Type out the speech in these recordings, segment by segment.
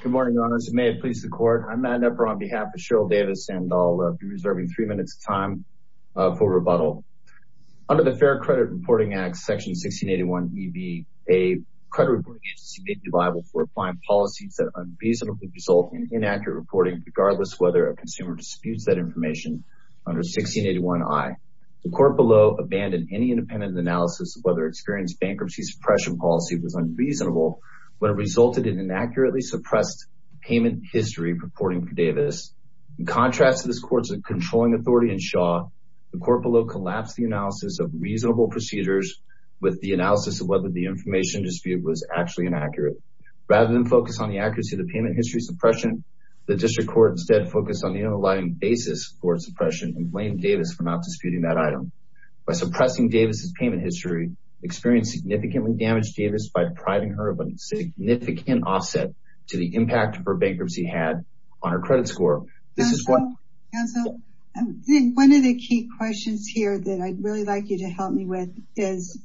Good morning, your honors. May it please the court. I'm Matt Knepper on behalf of Cheryl Davis, and I'll be reserving three minutes time for rebuttal. Under the Fair Credit Reporting Act, section 1681EB, a credit reporting agency may be liable for applying policies that unreasonably result in inaccurate reporting, regardless whether a consumer disputes that information under 1681I. The court below abandoned any independent analysis of whether Experian's inaccurately suppressed payment history reporting for Davis. In contrast to this court's controlling authority in Shaw, the court below collapsed the analysis of reasonable procedures with the analysis of whether the information dispute was actually inaccurate. Rather than focus on the accuracy of the payment history suppression, the district court instead focused on the underlying basis for suppression and blamed Davis for not disputing that item. By suppressing Davis's payment history, Experian significantly damaged Davis by depriving her of significant offset to the impact her bankruptcy had on her credit score. One of the key questions here that I'd really like you to help me with is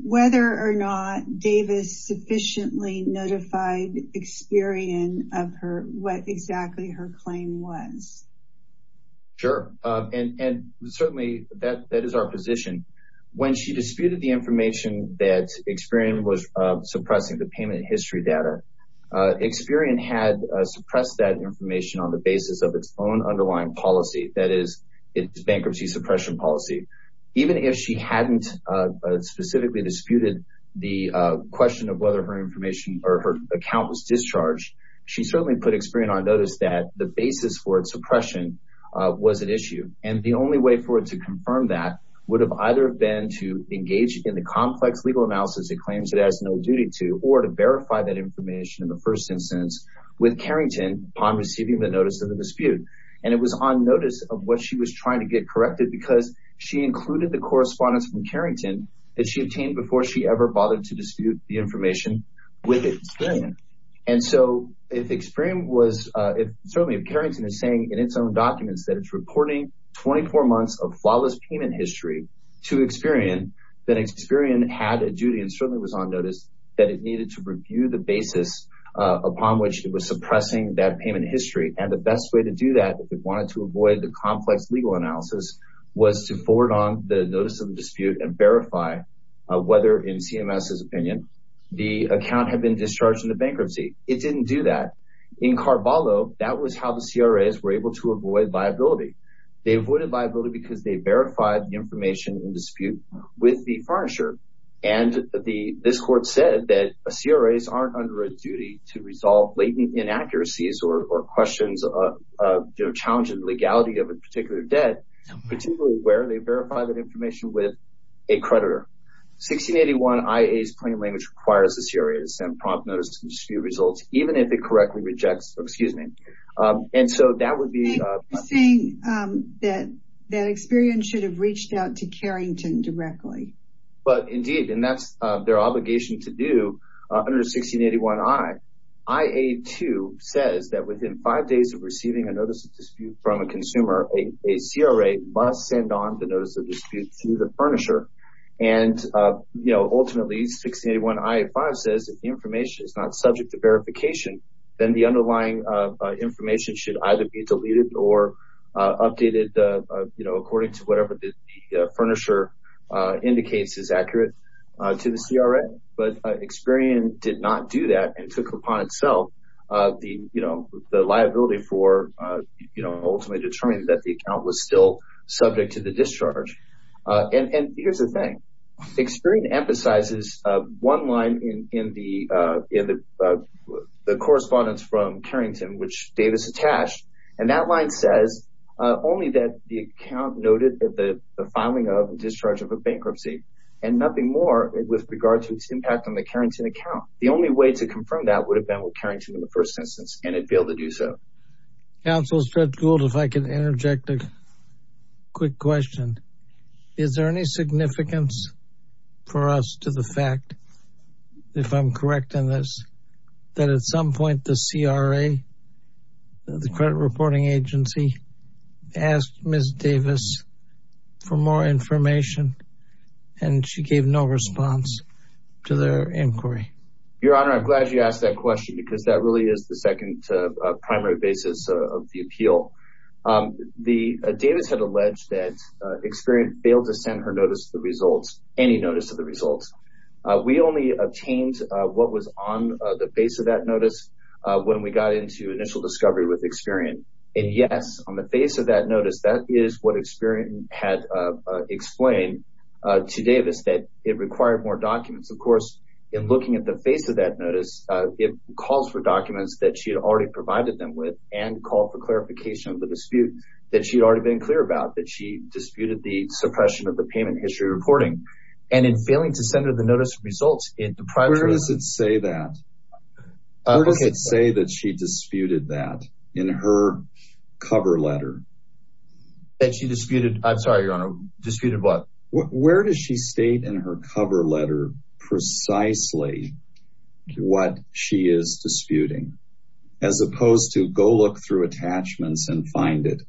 whether or not Davis sufficiently notified Experian of what exactly her claim was. Sure, and certainly that is our position. When she disputed the information that Experian was suppressing, the payment history data, Experian had suppressed that information on the basis of its own underlying policy, that is, its bankruptcy suppression policy. Even if she hadn't specifically disputed the question of whether her information or her account was discharged, she certainly put Experian on notice that the basis for its suppression was at issue. The only way for it to confirm that would have either been to engage in the complex legal analysis it claims it has no duty to, or to verify that information in the first instance with Carrington upon receiving the notice of the dispute. And it was on notice of what she was trying to get corrected because she included the correspondence from Carrington that she obtained before she ever bothered to dispute the information with Experian. And so if Carrington is saying in its own documents that it's reporting 24 months of flawless payment history to Experian, then it certainly was on notice that it needed to review the basis upon which it was suppressing that payment history. And the best way to do that, if it wanted to avoid the complex legal analysis, was to forward on the notice of the dispute and verify whether in CMS's opinion the account had been discharged in the bankruptcy. It didn't do that. In Carvalho, that was how the CRAs were able to avoid liability. They avoided liability because they verified the information in dispute with the furnisher. And this court said that CRAs aren't under a duty to resolve latent inaccuracies or questions of challenging legality of a particular debt, particularly where they verify that information with a creditor. 1681 IA's plain language requires the CRA to send prompt notice to dispute results even if it correctly rejects, excuse me. And so that would directly. But indeed, and that's their obligation to do under 1681 I. IA 2 says that within five days of receiving a notice of dispute from a consumer, a CRA must send on the notice of dispute to the furnisher. And, you know, ultimately 1681 IA 5 says if the information is not subject to verification, then the underlying information should either be deleted or updated, you know, according to whatever the furnisher indicates is accurate to the CRA. But Experian did not do that and took upon itself the, you know, the liability for, you know, ultimately determining that the account was still subject to the discharge. And here's the thing. Experian emphasizes one line in the correspondence from Carrington, which Davis attached. And that line says only that the account noted the filing of and discharge of a bankruptcy and nothing more with regard to its impact on the Carrington account. The only way to confirm that would have been with Carrington in the first instance, and it failed to do so. Counsel Fred Gould, if I can interject a quick question. Is there any significance for us to the fact, if I'm correct in this, that at some point the CRA, the credit reporting agency, asked Ms. Davis for more information and she gave no response to their inquiry? Your Honor, I'm glad you asked that question because that really is the second primary basis of the appeal. The Davis had alleged that Experian failed to send her notice of the results, any notice of the results. We only obtained what was on the face of that notice when we got into initial discovery with Experian. And yes, on the face of that notice, that is what Experian had explained to Davis, that it required more documents. Of course, in looking at the face of that notice, it calls for documents that she had already provided them with and called for clarification of the dispute that she'd already been clear about, that she disputed the suppression of the payment history reporting. And in failing to send her the notice of results in the primary... Where does it say that? Where does it say that she disputed that in her cover letter? That she disputed, I'm sorry, Your Honor, disputed what? Where does she state in her cover letter precisely what she is disputing as opposed to go look through attachments and find it?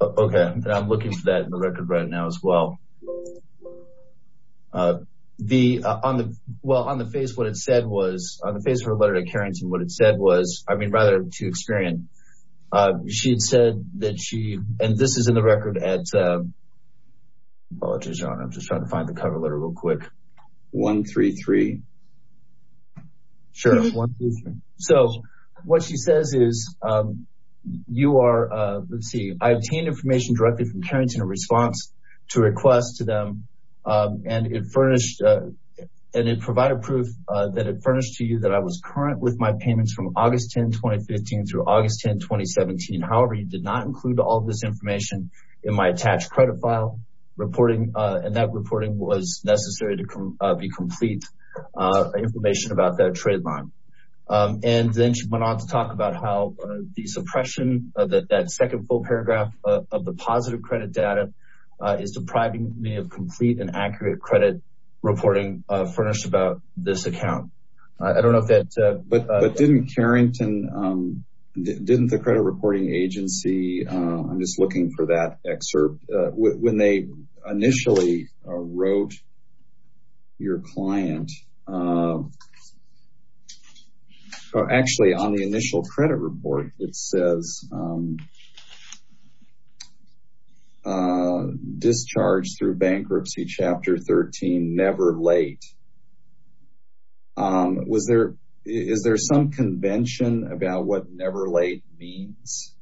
Okay. I'm looking for that in the record right now as well. The, on the, well, on the face, what it said was, on the face of her letter to Carrington, what it said was, I mean, rather to Experian, she had said that she, and this is in the record at, apologies, Your Honor, I'm just trying to find the cover letter real quick. 133. Sure. So what she says is, you are, let's see, I obtained information directly from Carrington in response to request to them. And it furnished, and it provided proof that it furnished to you that I was current with my payments from August 10, 2015 through August 10, 2017. However, you did not include all of this information in my attached credit file reporting. And that reporting was necessary to be complete information about that trade line. And then she went on to about how the suppression of that, that second full paragraph of the positive credit data is depriving me of complete and accurate credit reporting furnished about this account. I don't know if that. But didn't Carrington, didn't the credit reporting agency, I'm just looking for that credit report. It says, discharged through bankruptcy, chapter 13, never late. Was there, is there some convention about what never late means?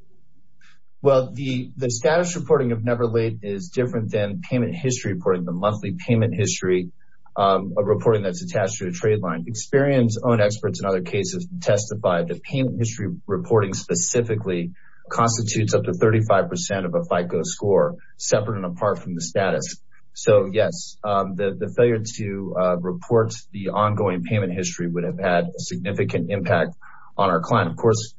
Well, the status reporting of never late is different than payment history reporting, the monthly payment history reporting that's attached to a trade line. Experian's own reporting specifically constitutes up to 35% of a FICO score, separate and apart from the status. So yes, the failure to report the ongoing payment history would have had a significant impact on our client. Of course,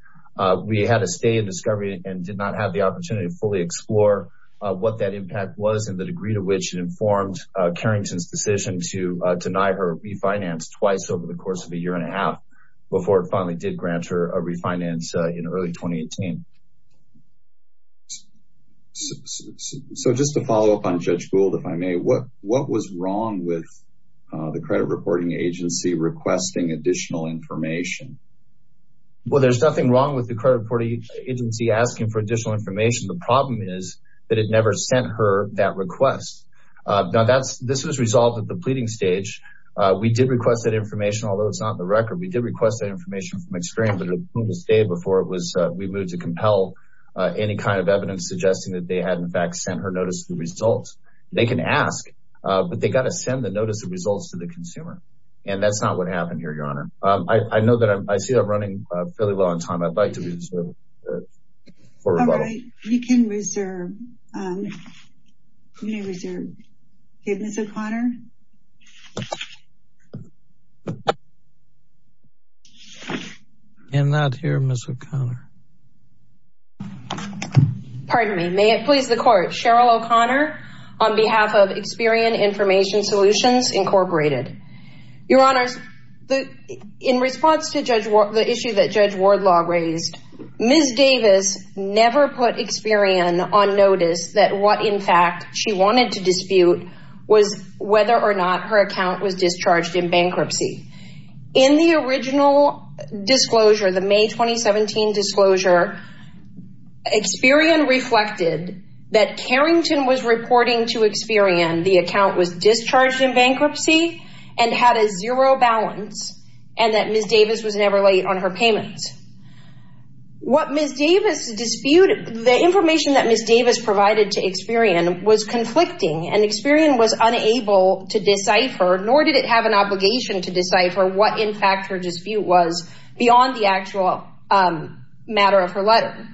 we had to stay in discovery and did not have the opportunity to fully explore what that impact was and the degree to which it informed Carrington's decision to deny her refinance twice over the course of a year and a half before it finally did grant her refinance in early 2018. So just to follow up on Judge Gould, if I may, what was wrong with the credit reporting agency requesting additional information? Well, there's nothing wrong with the credit reporting agency asking for additional information. The problem is that it never sent her that request. Now that's, this was resolved at the pleading stage. We did request that information, although it's not in the record. We did request that information from Experian, but it was the day before we moved to compel any kind of evidence suggesting that they had in fact sent her notice of the results. They can ask, but they got to send the notice of results to the consumer. And that's not what happened here, Your Honor. I know that I see I'm running fairly well on time. I'd like to reserve for rebuttal. All right, you can reserve. You may reserve. Ms. O'Connor? I'm not here, Ms. O'Connor. Pardon me. May it please the Court? Cheryl O'Connor on behalf of Experian Information Solutions Incorporated. Your Honors, in response to the issue that Judge Wardlaw raised, Ms. Davis never put Experian on notice that what in fact she wanted to dispute was whether or not her account was discharged in bankruptcy. In the original disclosure, the May 2017 disclosure, Experian reflected that Carrington was reporting to Experian the account was discharged in bankruptcy and had a zero balance and that Ms. Davis was never late on her payments. What Ms. Davis disputed, the information that Ms. Davis provided to Experian was conflicting, and Experian was unable to decipher, nor did it have an obligation to decipher, what in fact her dispute was beyond the actual matter of her letter.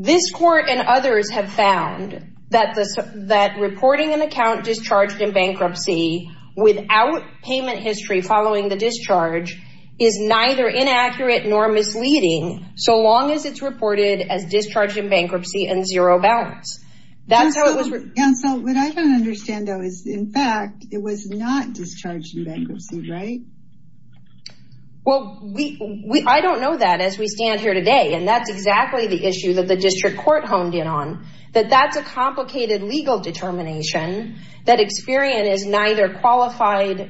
This Court and others have found that reporting an account discharged in bankruptcy without payment history following the discharge is neither inaccurate nor misleading, so long as it's reported as discharged in bankruptcy and zero balance. Counsel, what I don't understand, though, is in fact it was not discharged in bankruptcy, right? Well, I don't know that as we stand here today, and that's exactly the issue that the District qualified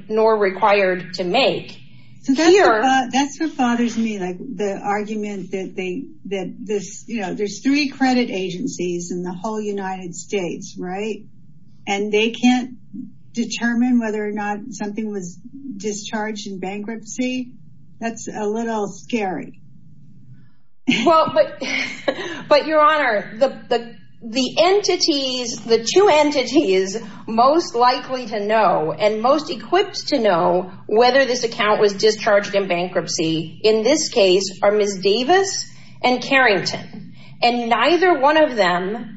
nor required to make. That's what bothers me, the argument that there's three credit agencies in the whole United States, right, and they can't determine whether or not something was discharged in bankruptcy. That's a little scary. Well, but your Honor, the two entities most likely to know and most equipped to know whether this account was discharged in bankruptcy in this case are Ms. Davis and Carrington, and neither one of them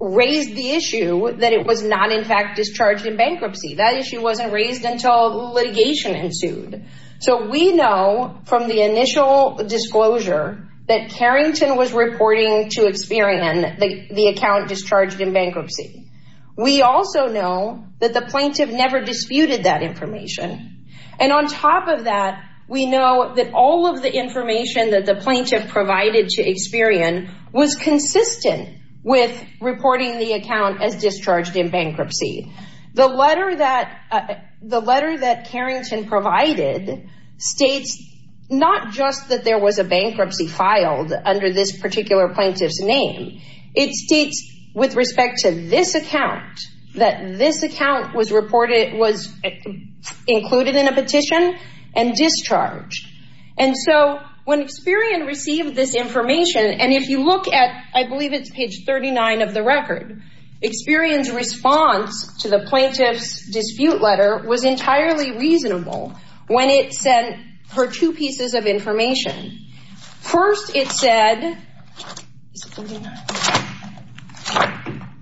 raised the issue that it was not in fact discharged in bankruptcy. That issue wasn't raised until litigation ensued, so we know from the initial disclosure that Carrington was reporting to We also know that the plaintiff never disputed that information, and on top of that, we know that all of the information that the plaintiff provided to Experian was consistent with reporting the account as discharged in bankruptcy. The letter that Carrington provided states not just that was a bankruptcy filed under this particular plaintiff's name. It states with respect to this account that this account was included in a petition and discharged, and so when Experian received this information, and if you look at, I believe it's page 39 of the record, Experian's response to the plaintiff's dispute letter was entirely reasonable when it sent her two pieces of information. First, it said,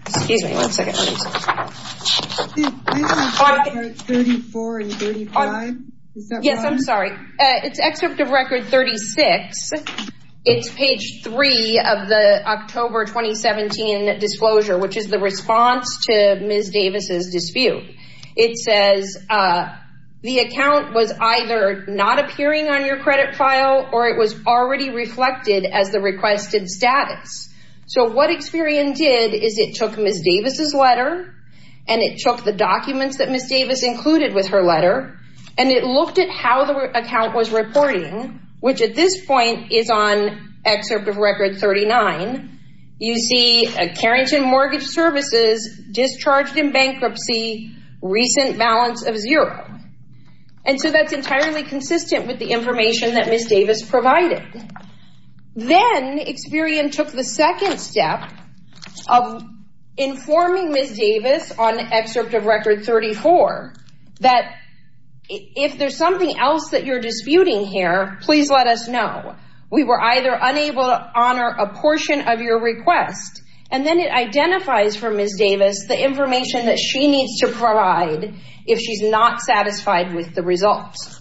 excuse me, one second, yes, I'm sorry, it's excerpt of record 36. It's page 3 of the October 2017 disclosure, which is the response to Ms. Davis's dispute. It says the account was either not appearing on your credit file or it was already reflected as the requested status, so what Experian did is it took Ms. Davis's letter and it took the documents that Ms. Davis included with her letter and it looked at how the account was reporting, which at this point is on excerpt of record 39. You see a Carrington Mortgage Services discharged in bankruptcy, recent balance of zero, and so that's entirely consistent with the information that Ms. Davis provided. Then Experian took the second step of informing Ms. Davis on excerpt of record 34 that if there's something else that you're disputing here, please let us know. We were either unable to honor a portion of your request, and then it identifies for Ms. Davis the information that she needs to provide if she's not satisfied with the results.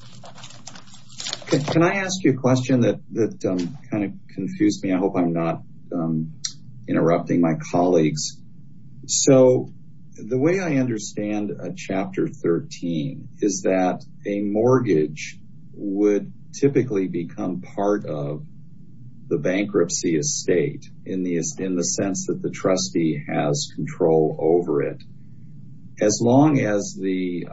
Can I ask you a question that kind of confused me? I hope I'm not interrupting my colleagues. So the way I understand chapter 13 is that a mortgage would typically become part of the bankruptcy estate in the sense that the trustee has control over it. As long as the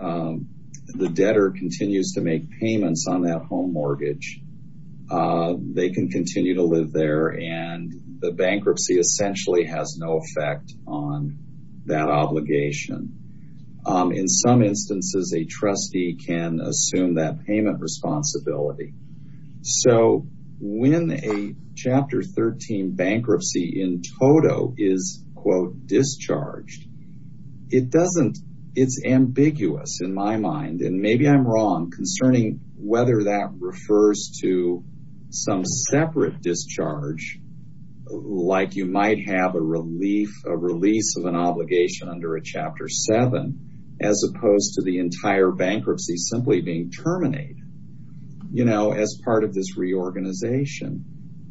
debtor continues to make payments on that home mortgage, they can continue to live there and the bankruptcy essentially has no effect on that obligation. In some instances, a trustee can win a chapter 13 bankruptcy in toto is quote discharged. It's ambiguous in my mind, and maybe I'm wrong concerning whether that refers to some separate discharge like you might have a release of an obligation under a chapter 7 as opposed to the entire organization.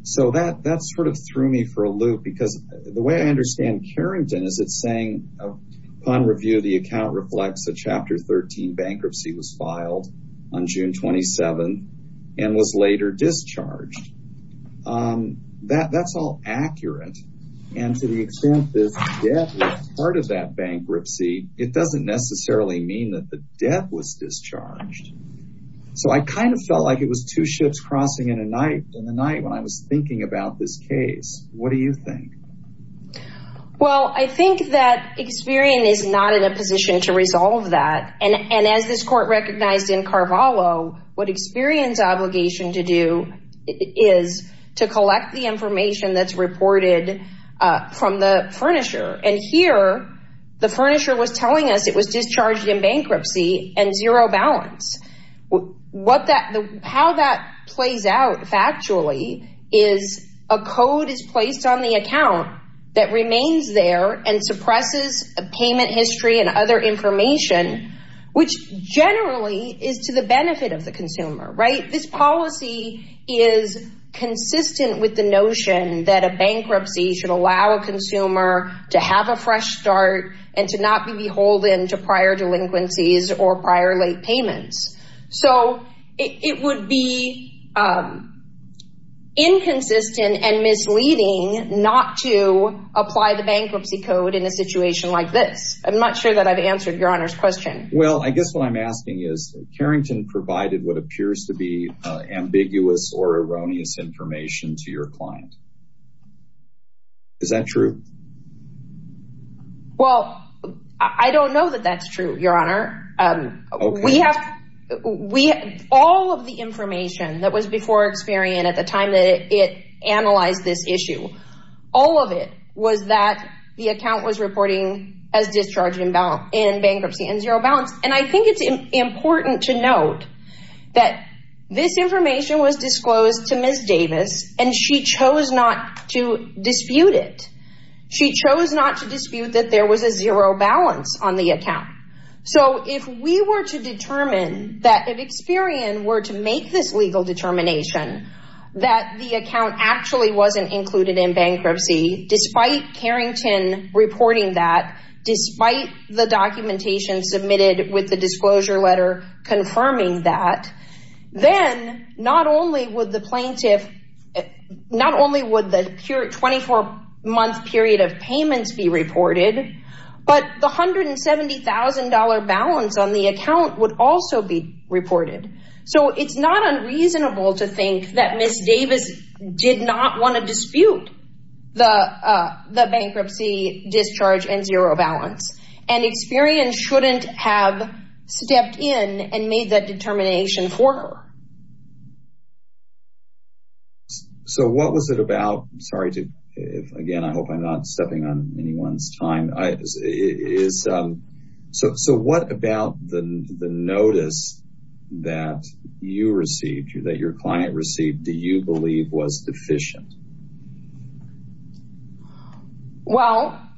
So that sort of threw me for a loop because the way I understand Carrington is it's saying upon review, the account reflects a chapter 13 bankruptcy was filed on June 27 and was later discharged. That's all accurate. And to the extent that part of that bankruptcy, it doesn't necessarily mean that the debt was discharged. So I kind of felt like it was two in the night when I was thinking about this case. What do you think? Well, I think that Experian is not in a position to resolve that. And as this court recognized in Carvalho, what Experian's obligation to do is to collect the information that's reported from the furnisher. And here, the furnisher was telling us it was discharged in bankruptcy and zero balance. How that plays out factually is a code is placed on the account that remains there and suppresses a payment history and other information, which generally is to the benefit of the consumer, right? This policy is consistent with the notion that a bankruptcy should allow a consumer to have a fresh start and to not be beholden to or prior late payments. So it would be inconsistent and misleading not to apply the bankruptcy code in a situation like this. I'm not sure that I've answered Your Honor's question. Well, I guess what I'm asking is Carrington provided what appears to be ambiguous or erroneous information to your client. Is that true? Well, I don't know that that's true, Your Honor. All of the information that was before Experian at the time that it analyzed this issue, all of it was that the account was reporting as discharged in bankruptcy and zero balance. And I think it's important to note that this information was disclosed to Ms. Davis and she chose not to dispute it. She chose not to dispute that there was a zero balance on the account. So if we were to determine that if Experian were to make this legal determination that the account actually wasn't included in bankruptcy, despite Carrington reporting that, despite the documentation submitted with the disclosure letter confirming that, then not only would the plaintiff, not only would the 24-month period of payments be reported, but the $170,000 balance on the account would also be reported. So it's not unreasonable to think that Ms. Davis did not want to dispute the bankruptcy discharge and zero balance. And Experian shouldn't have stepped in and made that determination for her. So what was it about, sorry to, again, I hope I'm not stepping on anyone's time. So what about the notice that you received, that your client received, do you believe was deficient? Well,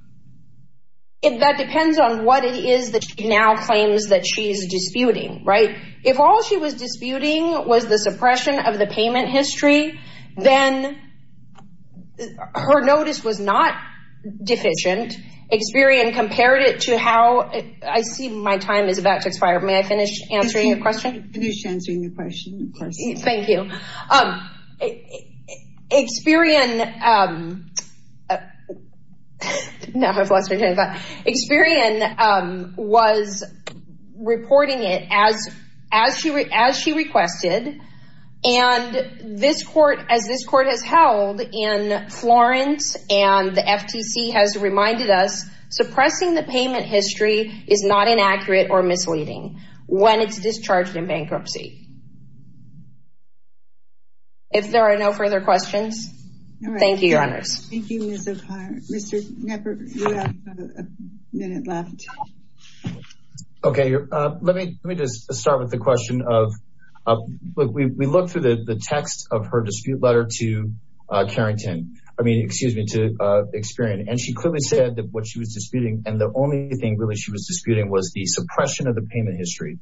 that depends on what it is that she now claims that she's disputing, right? If all she was disputing was the suppression of the payment history, then her notice was not deficient. Experian compared it to how, I see my time is about to expire. May I finish answering your question? Thank you. Experian was reporting it as she requested. And as this court has held in Florence and the FTC has reminded us, suppressing the payment history is not inaccurate or misleading when it's discharged in bankruptcy. If there are no further questions, thank you, Your Honors. Thank you, Ms. O'Connor. Mr. Knepper, you have a minute left. Okay. Let me just start with the question of, we looked through the text of her dispute letter to Experian and she clearly said that what she was disputing and the only thing really she was disputing was the suppression of the payment history.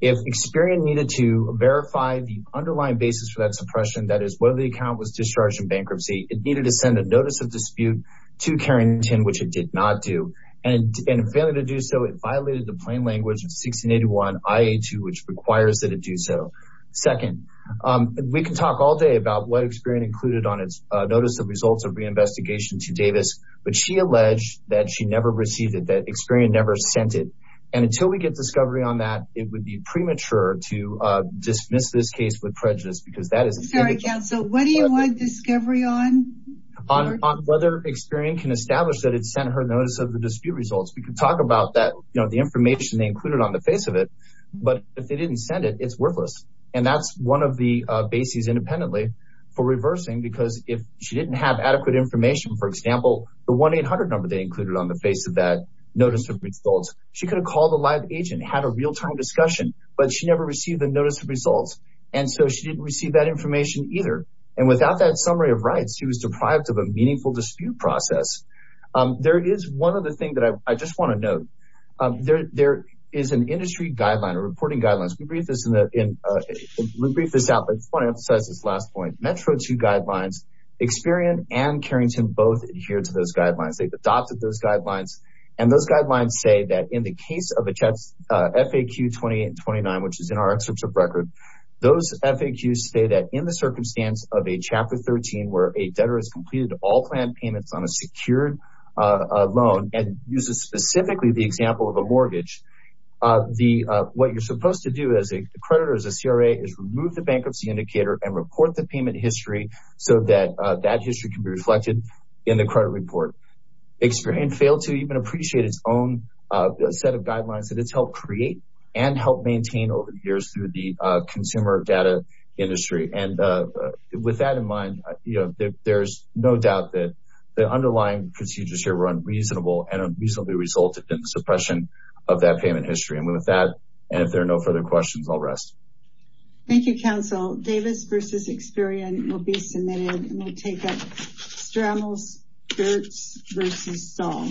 If Experian needed to verify the underlying basis for that suppression, that is whether the account was discharged in bankruptcy, it needed to send a notice of dispute to Carrington, which it did not do. And in failing to do so, it violated the plain language of 1681 IA2, which requires that it do so. Second, we can talk all day about what Experian included on its notice of results of reinvestigation to Davis, but she alleged that she never received it, that Experian never sent it. And until we get discovery on that, it would be premature to dismiss this case with prejudice. Sorry, counsel, what do you want discovery on? Whether Experian can establish that it sent her notice of the dispute results. We can talk about that, you know, the information they included on the face of it, but if they didn't send it, it's worthless. And that's one of the bases independently for reversing, because if she didn't have adequate information, for example, the 1-800 number they could have called a live agent, had a real-time discussion, but she never received the notice of results. And so she didn't receive that information either. And without that summary of rights, she was deprived of a meaningful dispute process. There is one other thing that I just want to note, there is an industry guideline or reporting guidelines. We'll brief this out, but I want to emphasize this last point. Metro 2 guidelines, Experian and Carrington both adhere to those FAQ 28 and 29, which is in our excerpts of record. Those FAQs say that in the circumstance of a Chapter 13, where a debtor has completed all planned payments on a secured loan and uses specifically the example of a mortgage, what you're supposed to do as a creditor, as a CRA, is remove the bankruptcy indicator and report the payment history so that that history can be created and maintained over the years through the consumer data industry. And with that in mind, there's no doubt that the underlying procedures here were unreasonable and unreasonably resulted in the suppression of that payment history. And with that, and if there are no further questions, I'll rest. Thank you, counsel. Davis versus Experian will be submitted and we'll take up Strammell's, Burt's versus Song.